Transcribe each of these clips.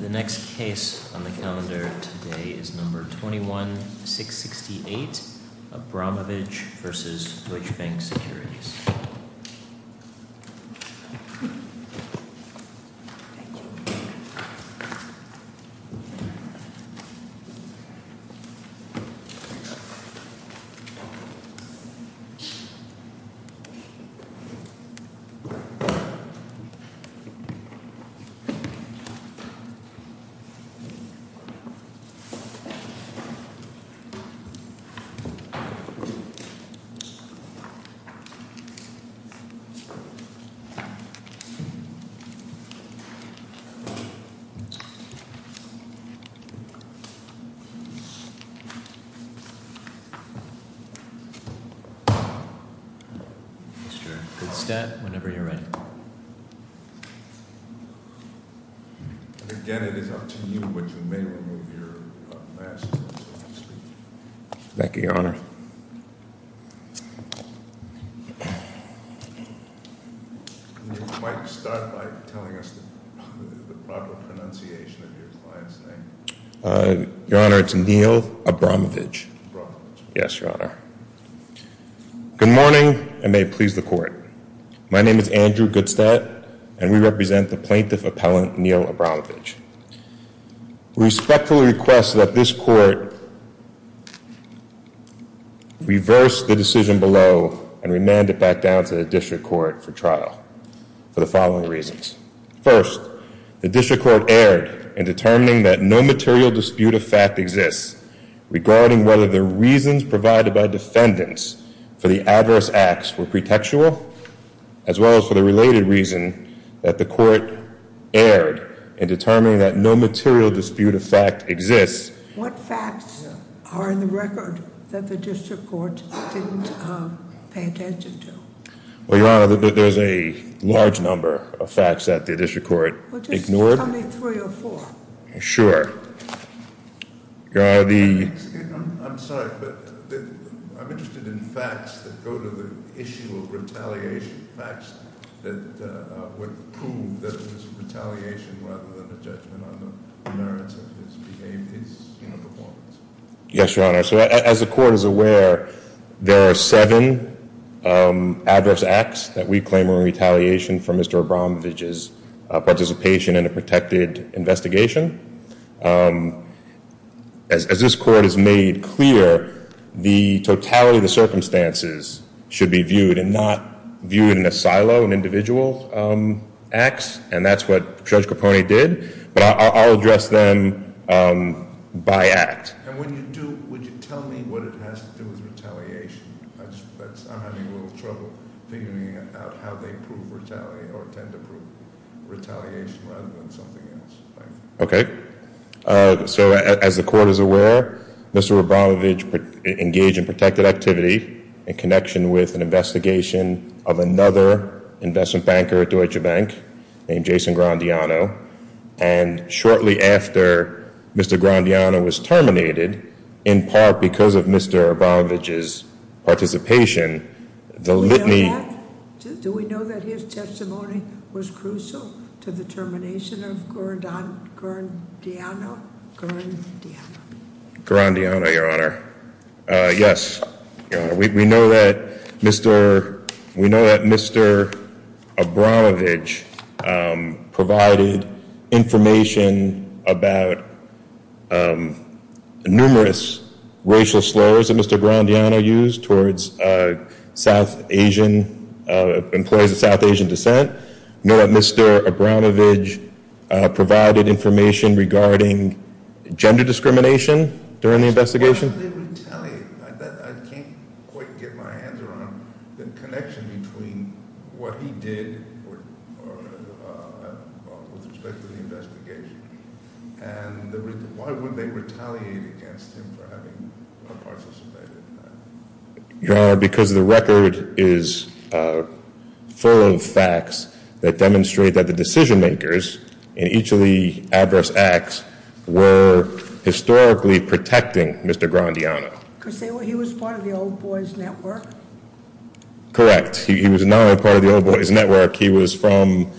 The next case on the calendar today is number 21-668, Abromavage v. Deutsche Bank Securities. Mr. Goodstead, whenever you're ready. Again, it is up to you, but you may remove your mask when you speak. Thank you, Your Honor. You might start by telling us the proper pronunciation of your client's name. Your Honor, it's Neil Abromavage. Yes, Your Honor. Good morning, and may it please the Court. My name is Andrew Goodstead, and we represent the plaintiff appellant, Neil Abromavage. We respectfully request that this Court reverse the decision below and remand it back down to the District Court for trial for the following reasons. First, the District Court erred in determining that no material dispute of fact exists regarding whether the reasons provided by defendants for the adverse acts were pretextual, as well as for the related reason that the Court erred in determining that no material dispute of fact exists. What facts are in the record that the District Court didn't pay attention to? Well, Your Honor, there's a large number of facts that the District Court ignored. Well, just tell me three or four. Sure. I'm sorry, but I'm interested in facts that go to the issue of retaliation, facts that would prove that it was retaliation rather than a judgment on the merits of his behavior, his performance. Yes, Your Honor. So as the Court is aware, there are seven adverse acts that we claim were in retaliation for Mr. Abromavage's participation in a protected investigation. As this Court has made clear, the totality of the circumstances should be viewed and not viewed in a silo and individual acts, and that's what Judge Capone did. But I'll address them by act. And when you do, would you tell me what it has to do with retaliation? I'm having a little trouble figuring out how they prove retaliation or tend to prove retaliation rather than something else. Okay. So as the Court is aware, Mr. Abromavage engaged in protected activity in connection with an investigation of another investment banker at Deutsche Bank named Jason Grandiano. And shortly after Mr. Grandiano was terminated, in part because of Mr. Abromavage's participation, the litany- Grandiano? Grandiano. Grandiano, Your Honor. Yes, Your Honor. We know that Mr. Abromavage provided information about numerous racial slurs that Mr. Grandiano used towards South Asian, employees of South Asian descent. We know that Mr. Abromavage provided information regarding gender discrimination during the investigation. Why would they retaliate? I can't quite get my hands around the connection between what he did with respect to the investigation. And why would they retaliate against him for having participated in that? Your Honor, because the record is full of facts that demonstrate that the decision makers in each of the adverse acts were historically protecting Mr. Grandiano. He was part of the Old Boys Network? Correct. He was not only part of the Old Boys Network. He was from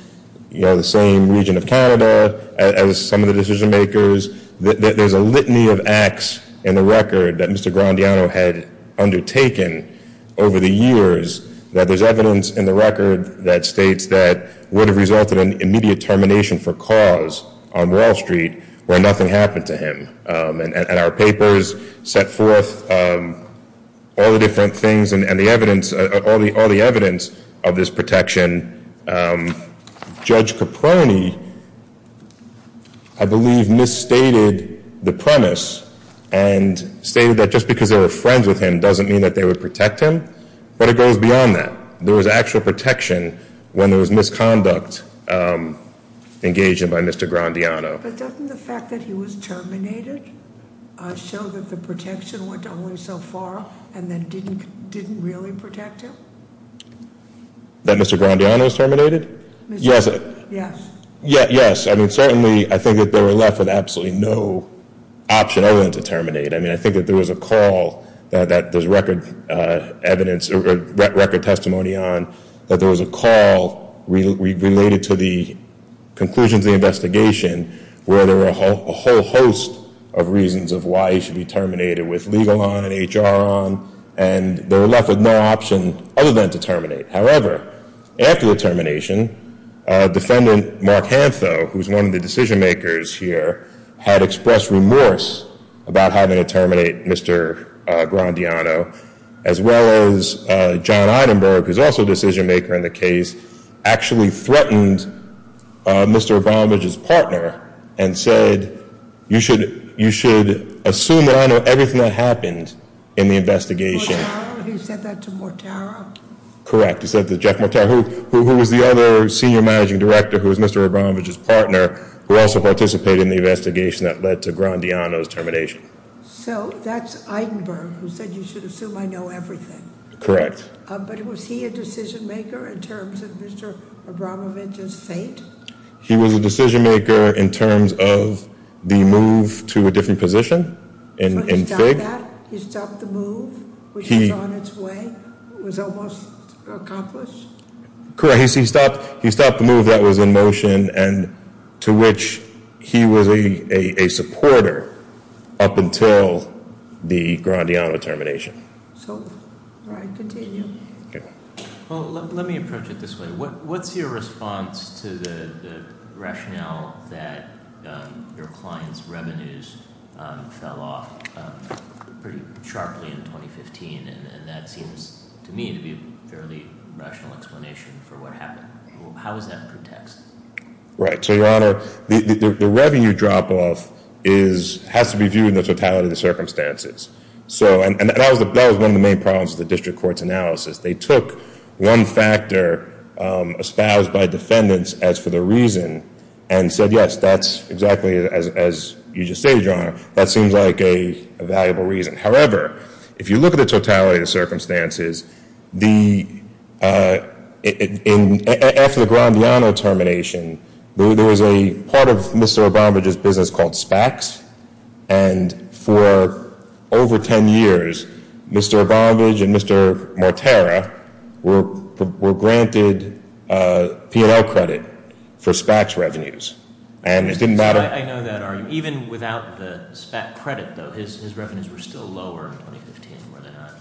the same region of Canada as some of the decision makers. There's a litany of acts in the record that Mr. Grandiano had undertaken over the years. There's evidence in the record that states that would have resulted in immediate termination for cause on Wall Street where nothing happened to him. And our papers set forth all the different things and all the evidence of this protection. And Judge Caproni, I believe, misstated the premise and stated that just because they were friends with him doesn't mean that they would protect him. But it goes beyond that. There was actual protection when there was misconduct engaged in by Mr. Grandiano. But doesn't the fact that he was terminated show that the protection went only so far and then didn't really protect him? That Mr. Grandiano was terminated? Yes. Yes. Yes. I mean, certainly I think that they were left with absolutely no option other than to terminate. I mean, I think that there was a call that there's record evidence or record testimony on that there was a call related to the conclusions of the investigation where there were a whole host of reasons of why he should be terminated with legal on and HR on. And they were left with no option other than to terminate. However, after the termination, Defendant Mark Hantho, who's one of the decision makers here, had expressed remorse about having to terminate Mr. Grandiano as well as John Einenberg, who's also a decision maker in the case, actually threatened Mr. O'Brienbridge's partner and said, you should assume that I know everything that happened in the investigation. Mortara? He said that to Mortara? Correct. He said that to Jack Mortara, who was the other senior managing director, who was Mr. O'Brienbridge's partner, who also participated in the investigation that led to Grandiano's termination. So that's Einenberg, who said you should assume I know everything. Correct. But was he a decision maker in terms of Mr. O'Brienbridge's fate? He was a decision maker in terms of the move to a different position in FIG. He stopped that? He stopped the move, which was on its way, was almost accomplished? Correct. He stopped the move that was in motion and to which he was a supporter up until the Grandiano termination. So, all right, continue. Okay. Well, let me approach it this way. What's your response to the rationale that your client's revenues fell off pretty sharply in 2015? And that seems to me to be a fairly rational explanation for what happened. How is that protected? Right. So, Your Honor, the revenue drop-off has to be viewed in the totality of the circumstances. And that was one of the main problems with the district court's analysis. They took one factor espoused by defendants as for the reason and said, yes, that's exactly as you just stated, Your Honor. That seems like a valuable reason. However, if you look at the totality of the circumstances, after the Grandiano termination, there was a part of Mr. O'Brienbridge's business called SPACs. And for over 10 years, Mr. O'Brienbridge and Mr. Mortera were granted P&L credit for SPACs revenues. And it didn't matter. I know that argument. Even without the SPAC credit, though, his revenues were still lower in 2015, were they not?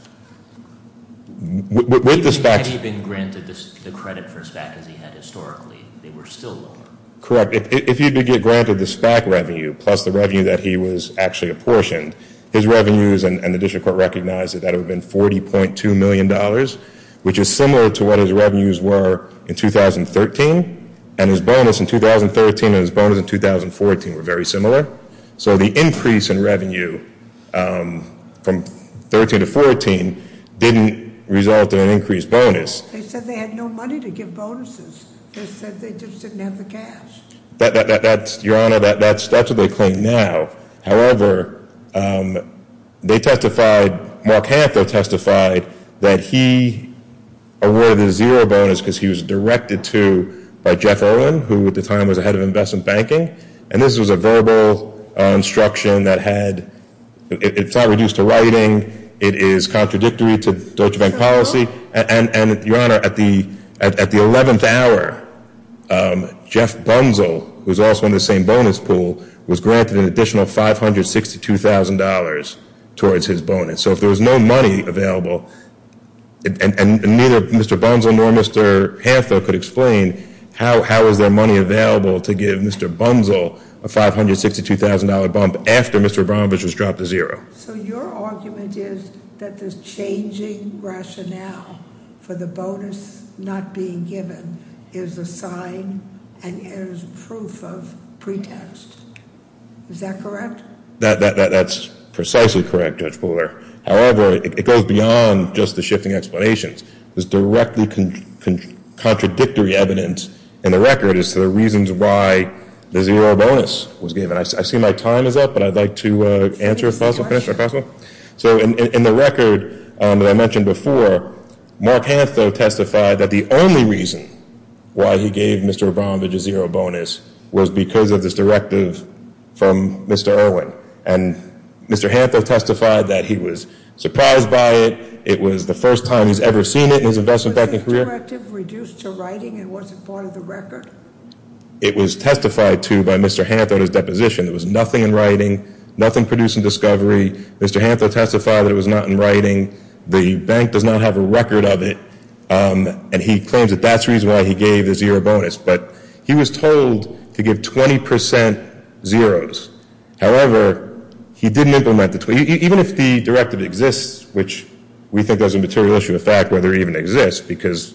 With the SPACs. He hadn't even been granted the credit for SPAC as he had historically. They were still lower. Correct. If you did get granted the SPAC revenue plus the revenue that he was actually apportioned, his revenues and the district court recognized that that would have been $40.2 million, which is similar to what his revenues were in 2013. And his bonus in 2013 and his bonus in 2014 were very similar. So the increase in revenue from 13 to 14 didn't result in an increased bonus. They said they had no money to give bonuses. They said they just didn't have the cash. Your Honor, that's what they claim now. However, they testified, Mark Hanford testified that he awarded a zero bonus because he was directed to by Jeff Owen, who at the time was the head of investment banking. And this was a verbal instruction that had, it's not reduced to writing. It is contradictory to Deutsche Bank policy. And, Your Honor, at the 11th hour, Jeff Bunzel, who's also in the same bonus pool, was granted an additional $562,000 towards his bonus. So if there was no money available, and neither Mr. Bunzel nor Mr. Hanford could explain, how was there money available to give Mr. Bunzel a $562,000 bump after Mr. Abramovich was dropped to zero? So your argument is that this changing rationale for the bonus not being given is a sign and is proof of pretext. Is that correct? That's precisely correct, Judge Fuller. However, it goes beyond just the shifting explanations. There's directly contradictory evidence in the record as to the reasons why the zero bonus was given. I see my time is up, but I'd like to answer a question. So in the record that I mentioned before, Mark Hanford testified that the only reason why he gave Mr. Abramovich a zero bonus was because of this directive from Mr. Erwin. And Mr. Hanford testified that he was surprised by it. It was the first time he's ever seen it in his investment banking career. Was this directive reduced to writing and wasn't part of the record? It was testified to by Mr. Hanford in his deposition. There was nothing in writing, nothing produced in discovery. Mr. Hanford testified that it was not in writing. The bank does not have a record of it. And he claims that that's the reason why he gave the zero bonus. But he was told to give 20 percent zeros. However, he didn't implement it. Even if the directive exists, which we think there's a material issue of fact whether it even exists, because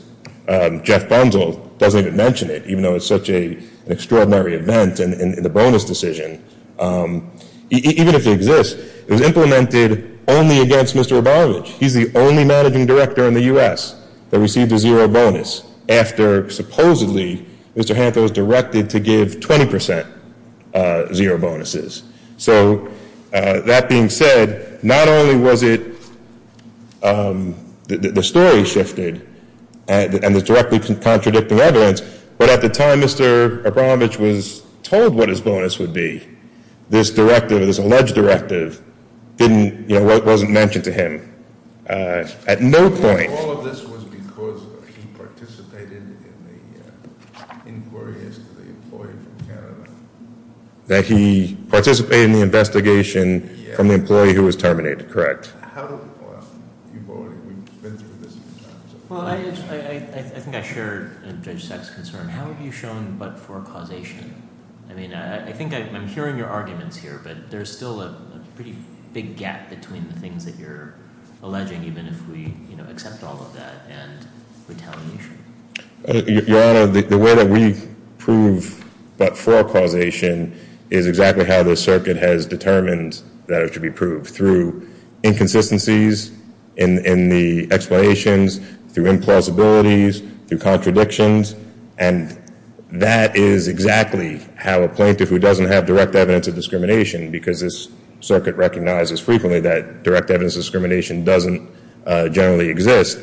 Jeff Bunzel doesn't even mention it, even though it's such an extraordinary event in the bonus decision. Even if it exists, it was implemented only against Mr. Abramovich. He's the only managing director in the U.S. that received a zero bonus after supposedly Mr. Hanford was directed to give 20 percent zero bonuses. So that being said, not only was it the story shifted and the directly contradicting evidence, but at the time Mr. Abramovich was told what his bonus would be, this directive, this alleged directive, wasn't mentioned to him at no point. All of this was because he participated in the inquiries to the employee from Canada. That he participated in the investigation from the employee who was terminated, correct. How do – you've already been through this. Well, I think I share Judge Sack's concern. How have you shown but for causation? I mean, I think I'm hearing your arguments here, but there's still a pretty big gap between the things that you're alleging, even if we accept all of that and we're telling the truth. Your Honor, the way that we prove but for causation is exactly how the circuit has determined that it should be proved, through inconsistencies in the explanations, through implausibilities, through contradictions. And that is exactly how a plaintiff who doesn't have direct evidence of discrimination, because this circuit recognizes frequently that direct evidence of discrimination doesn't generally exist,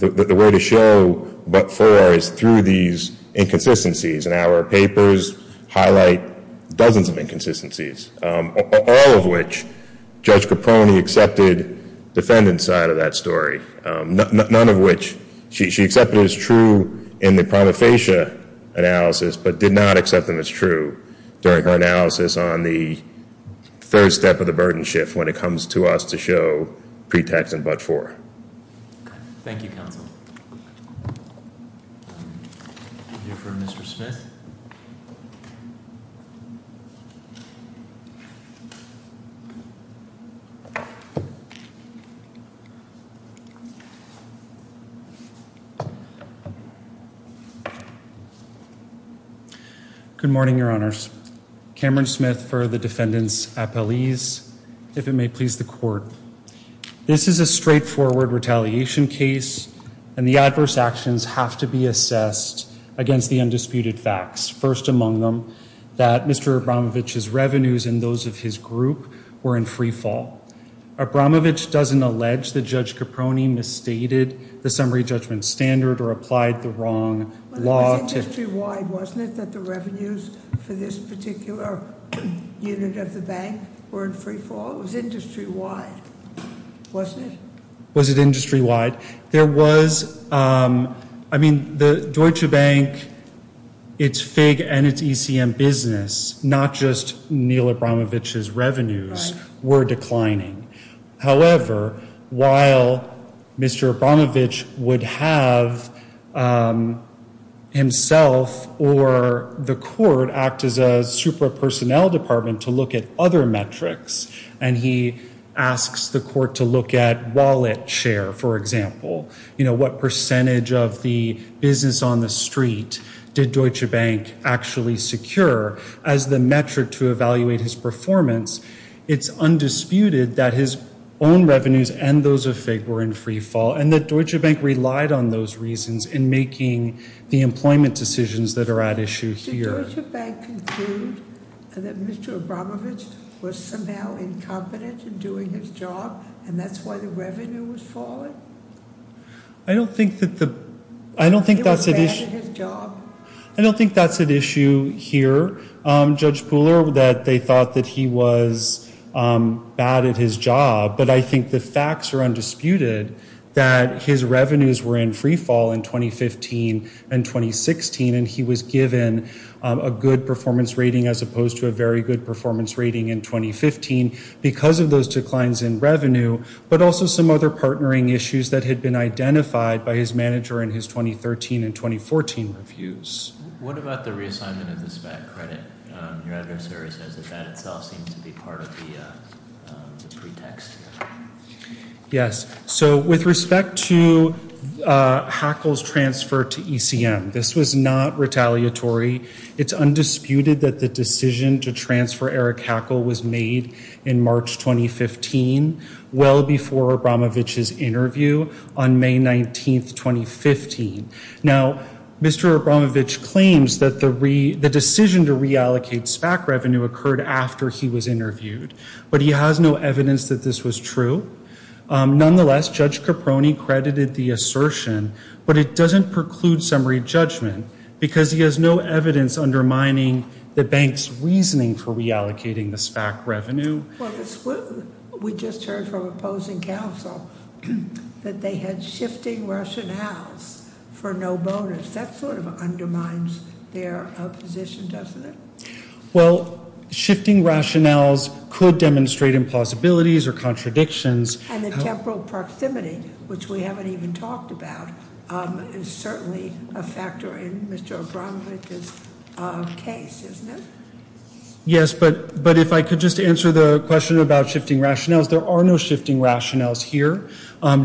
the way to show but for is through these inconsistencies. And our papers highlight dozens of inconsistencies, all of which Judge Caproni accepted defendant's side of that story. None of which she accepted as true in the prima facie analysis, but did not accept them as true during her analysis on the third step of the burden shift when it comes to us to show pretext and but for. Thank you, counsel. We'll hear from Mr. Smith. Good morning, Your Honors. Cameron Smith for the defendant's appellees. If it may please the court, this is a straightforward retaliation case and the adverse actions have to be assessed against the undisputed facts, first among them that Mr. Abramovich's revenues and those of his group were in free fall. Abramovich doesn't allege that Judge Caproni misstated the summary judgment standard or applied the wrong law to- It was industry wide, wasn't it, that the revenues for this particular unit of the bank were in free fall? It was industry wide, wasn't it? Was it industry wide? There was, I mean, the Deutsche Bank, its FIG and its ECM business, not just Neil Abramovich's revenues were declining. However, while Mr. Abramovich would have himself or the court act as a super personnel department to look at other metrics and he asks the court to look at wallet share, for example. You know, what percentage of the business on the street did Deutsche Bank actually secure as the metric to evaluate his performance? It's undisputed that his own revenues and those of FIG were in free fall and that Deutsche Bank relied on those reasons in making the employment decisions that are at issue here. Did Deutsche Bank conclude that Mr. Abramovich was somehow incompetent in doing his job and that's why the revenue was falling? I don't think that the- He was bad at his job. I don't think that's at issue here, Judge Pooler, that they thought that he was bad at his job, but I think the facts are undisputed that his revenues were in free fall in 2015 and 2016 and he was given a good performance rating as opposed to a very good performance rating in 2015. Because of those declines in revenue, but also some other partnering issues that had been identified by his manager in his 2013 and 2014 reviews. What about the reassignment of the SPAC credit? Your adversary says that that itself seems to be part of the pretext. Yes, so with respect to Hackle's transfer to ECM, this was not retaliatory. It's undisputed that the decision to transfer Eric Hackle was made in March 2015, well before Abramovich's interview on May 19, 2015. Now, Mr. Abramovich claims that the decision to reallocate SPAC revenue occurred after he was interviewed, but he has no evidence that this was true. Nonetheless, Judge Caproni credited the assertion, but it doesn't preclude summary judgment because he has no evidence undermining the bank's reasoning for reallocating the SPAC revenue. Well, we just heard from opposing counsel that they had shifting rationales for no bonus. That sort of undermines their position, doesn't it? Well, shifting rationales could demonstrate impossibilities or contradictions. And the temporal proximity, which we haven't even talked about, is certainly a factor in Mr. Abramovich's case, isn't it? Yes, but if I could just answer the question about shifting rationales, there are no shifting rationales here.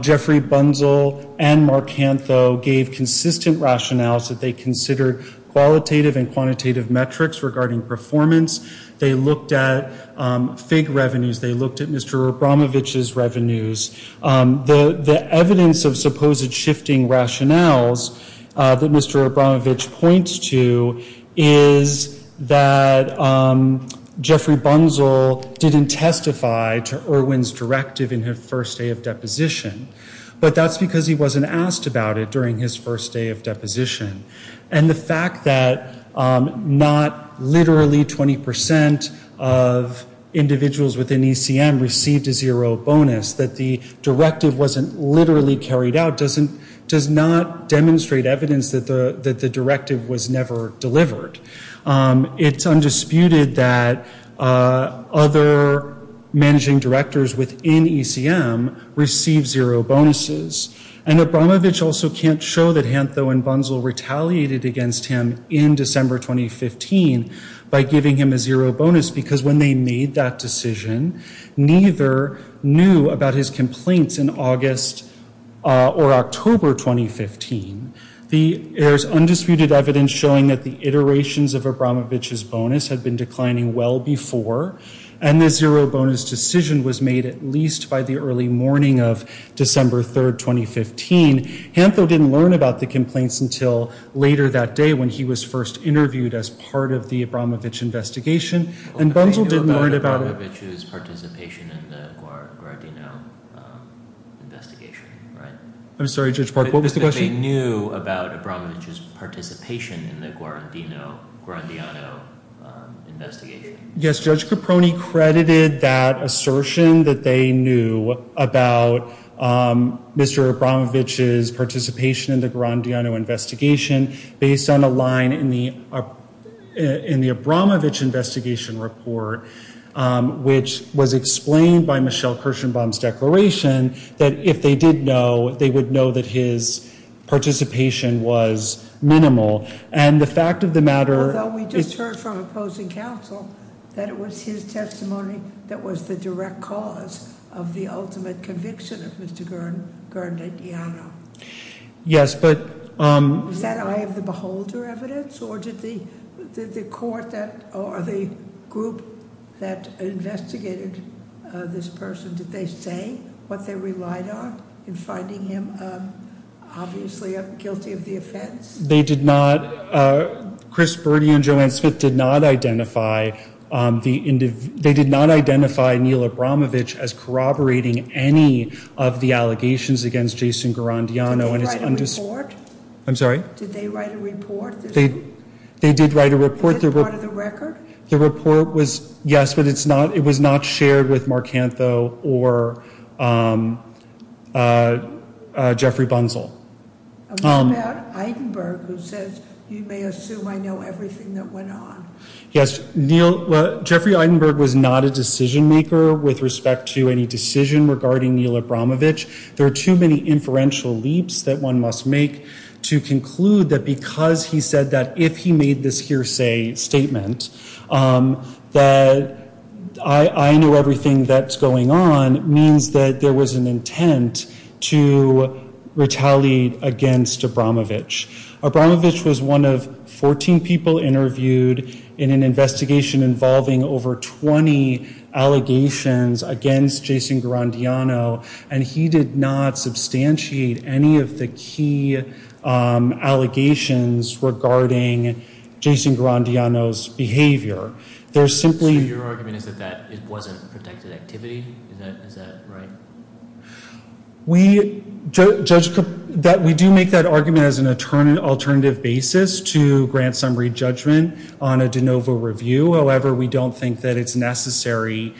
Jeffrey Bunzel and Mark Hantho gave consistent rationales that they considered qualitative and quantitative metrics regarding performance. They looked at FIG revenues. They looked at Mr. Abramovich's revenues. The evidence of supposed shifting rationales that Mr. Abramovich points to is that Jeffrey Bunzel didn't testify to Irwin's directive in his first day of deposition, but that's because he wasn't asked about it during his first day of deposition. And the fact that not literally 20% of individuals within ECM received a zero bonus, that the directive wasn't literally carried out, does not demonstrate evidence that the directive was never delivered. It's undisputed that other managing directors within ECM received zero bonuses. And Abramovich also can't show that Hantho and Bunzel retaliated against him in December 2015 by giving him a zero bonus, because when they made that decision, neither knew about his complaints in August or October 2015. There's undisputed evidence showing that the iterations of Abramovich's bonus had been declining well before, and the zero bonus decision was made at least by the early morning of December 3rd, 2015. Hantho didn't learn about the complaints until later that day when he was first interviewed as part of the Abramovich investigation, and Bunzel didn't learn about it. They knew about Abramovich's participation in the Guarandino investigation, right? I'm sorry, Judge Park, what was the question? They knew about Abramovich's participation in the Guarandino investigation. Yes, Judge Caproni credited that assertion that they knew about Mr. Abramovich's participation in the Guarandino investigation based on a line in the Abramovich investigation report, which was explained by Michelle Kirschenbaum's declaration that if they did know, they would know that his participation was minimal. And the fact of the matter is— That it was his testimony that was the direct cause of the ultimate conviction of Mr. Guarandino. Yes, but— Was that eye of the beholder evidence, or did the court or the group that investigated this person, did they say what they relied on in finding him obviously guilty of the offense? They did not—Chris Burdi and Joanne Smith did not identify Neil Abramovich as corroborating any of the allegations against Jason Guarandino. Did they write a report? I'm sorry? Did they write a report? They did write a report. Was it part of the record? The report was—yes, but it was not shared with Marcantho or Jeffrey Bunzel. What about Eidenberg, who says, you may assume I know everything that went on? Yes, Neil—Jeffrey Eidenberg was not a decision maker with respect to any decision regarding Neil Abramovich. There are too many inferential leaps that one must make to conclude that because he said that if he made this hearsay statement, that I know everything that's going on, means that there was an intent to retaliate against Abramovich. Abramovich was one of 14 people interviewed in an investigation involving over 20 allegations against Jason Guarandino, and he did not substantiate any of the key allegations regarding Jason Guarandino's behavior. So your argument is that it wasn't protected activity? Is that right? We do make that argument as an alternative basis to grant summary judgment on a de novo review. However, we don't think that it's necessary,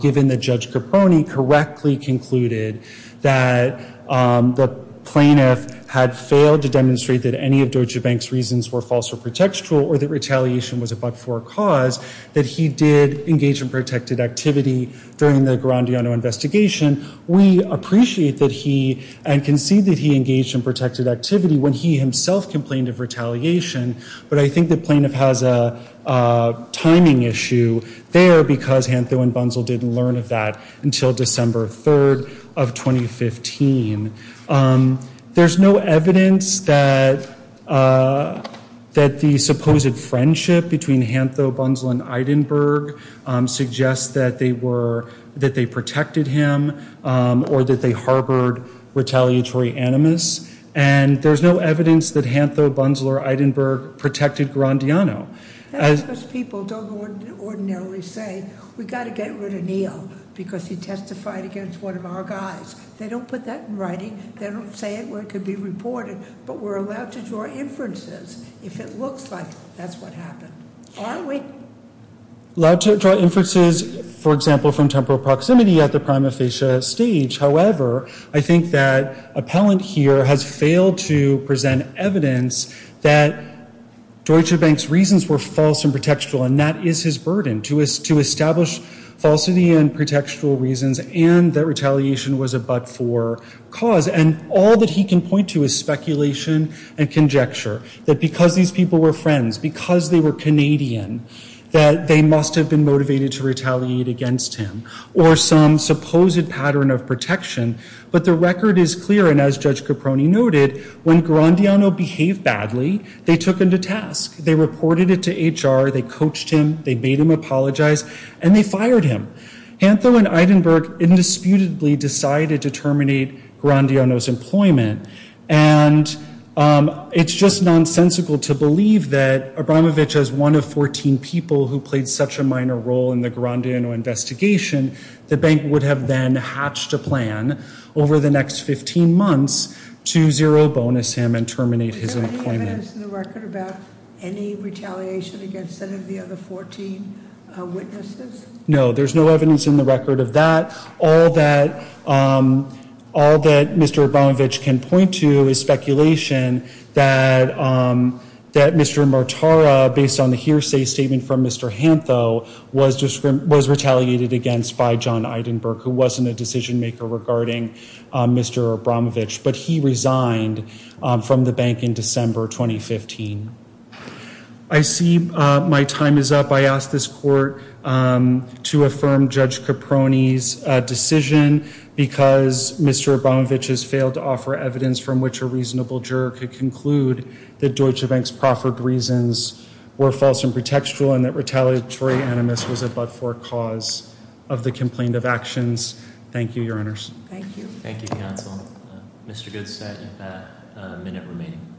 given that Judge Caponi correctly concluded that the plaintiff had failed to demonstrate that any of Deutsche Bank's reasons were false or pretextual, or that retaliation was a but-for cause, that he did engage in protected activity during the Guarandino investigation. We appreciate that he—and concede that he engaged in protected activity when he himself complained of retaliation, but I think the plaintiff has a timing issue there because Antho and Bunzel didn't learn of that until December 3rd of 2015. There's no evidence that the supposed friendship between Antho, Bunzel, and Eidenberg suggests that they were— that they protected him or that they harbored retaliatory animus, and there's no evidence that Antho, Bunzel, or Eidenberg protected Guarandino. That's because people don't ordinarily say, because he testified against one of our guys. They don't put that in writing. They don't say it where it could be reported, but we're allowed to draw inferences if it looks like that's what happened. Are we? Allowed to draw inferences, for example, from temporal proximity at the prima facie stage. However, I think that appellant here has failed to present evidence that Deutsche Bank's reasons were false and pretextual, and that is his burden, to establish falsity and pretextual reasons and that retaliation was a but-for cause. And all that he can point to is speculation and conjecture that because these people were friends, because they were Canadian, that they must have been motivated to retaliate against him or some supposed pattern of protection. But the record is clear, and as Judge Caproni noted, when Guarandino behaved badly, they took him to task. They reported it to HR. They coached him. They made him apologize, and they fired him. Hantho and Eidenberg indisputably decided to terminate Guarandino's employment, and it's just nonsensical to believe that Abramovich, as one of 14 people who played such a minor role in the Guarandino investigation, the bank would have then hatched a plan over the next 15 months to zero-bonus him and terminate his employment. There's no evidence in the record about any retaliation against any of the other 14 witnesses? No, there's no evidence in the record of that. All that Mr. Abramovich can point to is speculation that Mr. Martara, based on the hearsay statement from Mr. Hantho, was retaliated against by John Eidenberg, who wasn't a decision-maker regarding Mr. Abramovich, but he resigned from the bank in December 2015. I see my time is up. I ask this court to affirm Judge Caproni's decision because Mr. Abramovich has failed to offer evidence from which a reasonable juror could conclude that Deutsche Bank's proffered reasons were false and pretextual and that retaliatory animus was a but-for cause of the complaint of actions. Thank you, Your Honors. Thank you. Thank you, Counsel. Mr. Goodstead, you have a minute remaining.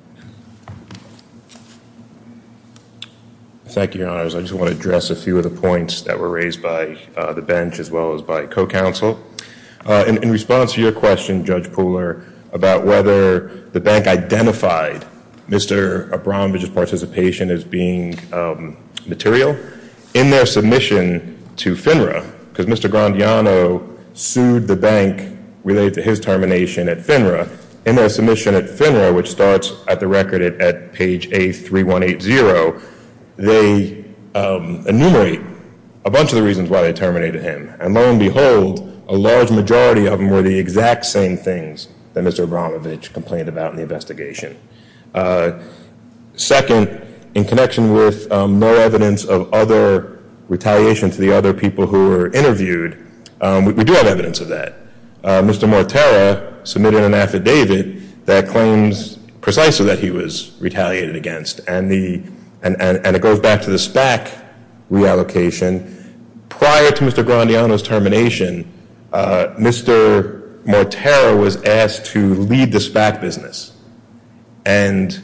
Thank you, Your Honors. I just want to address a few of the points that were raised by the bench as well as by co-counsel. In response to your question, Judge Pooler, about whether the bank identified Mr. Abramovich's participation as being material, in their submission to FINRA, because Mr. Grandiano sued the bank related to his termination at FINRA, in their submission at FINRA, which starts at the record at page A3180, they enumerate a bunch of the reasons why they terminated him. And lo and behold, a large majority of them were the exact same things that Mr. Abramovich complained about in the investigation. Second, in connection with no evidence of other retaliation to the other people who were interviewed, we do have evidence of that. Mr. Mortera submitted an affidavit that claims precisely that he was retaliated against, and it goes back to the SPAC reallocation. Prior to Mr. Grandiano's termination, Mr. Mortera was asked to lead the SPAC business, and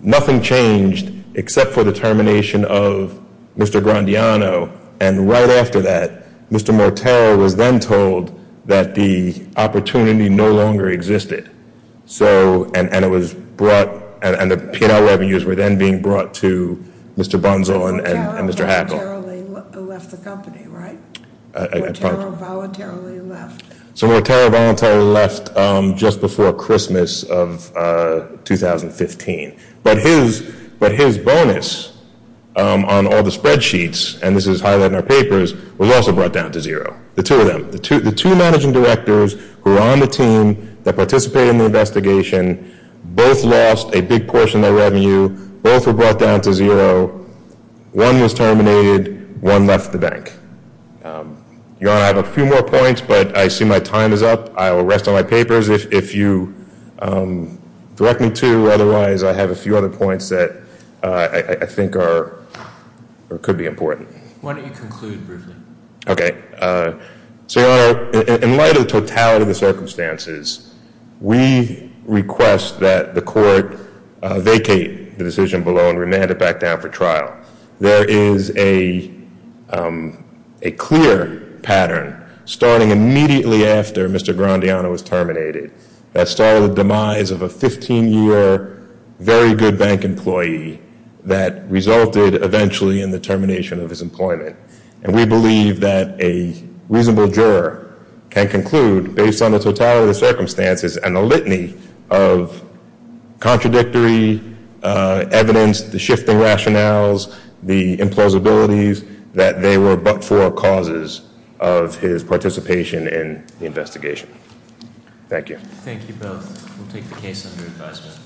nothing changed except for the termination of Mr. Grandiano. And right after that, Mr. Mortera was then told that the opportunity no longer existed. So, and it was brought, and the P&L revenues were then being brought to Mr. Bonzo and Mr. Hackle. Mortera voluntarily left the company, right? I apologize. Mortera voluntarily left. So, Mortera voluntarily left just before Christmas of 2015. But his bonus on all the spreadsheets, and this is highlighted in our papers, was also brought down to zero. The two of them. The two managing directors who were on the team that participated in the investigation, both lost a big portion of their revenue, both were brought down to zero. One was terminated. One left the bank. Your Honor, I have a few more points, but I assume my time is up. I will rest on my papers if you direct me to. Otherwise, I have a few other points that I think are or could be important. Why don't you conclude briefly? Okay. So, Your Honor, in light of the totality of the circumstances, we request that the court vacate the decision below and remand it back down for trial. There is a clear pattern starting immediately after Mr. Grandiano was terminated that started the demise of a 15-year, very good bank employee that resulted eventually in the termination of his employment. And we believe that a reasonable juror can conclude, based on the totality of the circumstances and the litany of contradictory evidence, the shifting rationales, the implausibilities, that they were but for causes of his participation in the investigation. Thank you. Thank you both. We'll take the case under advisement.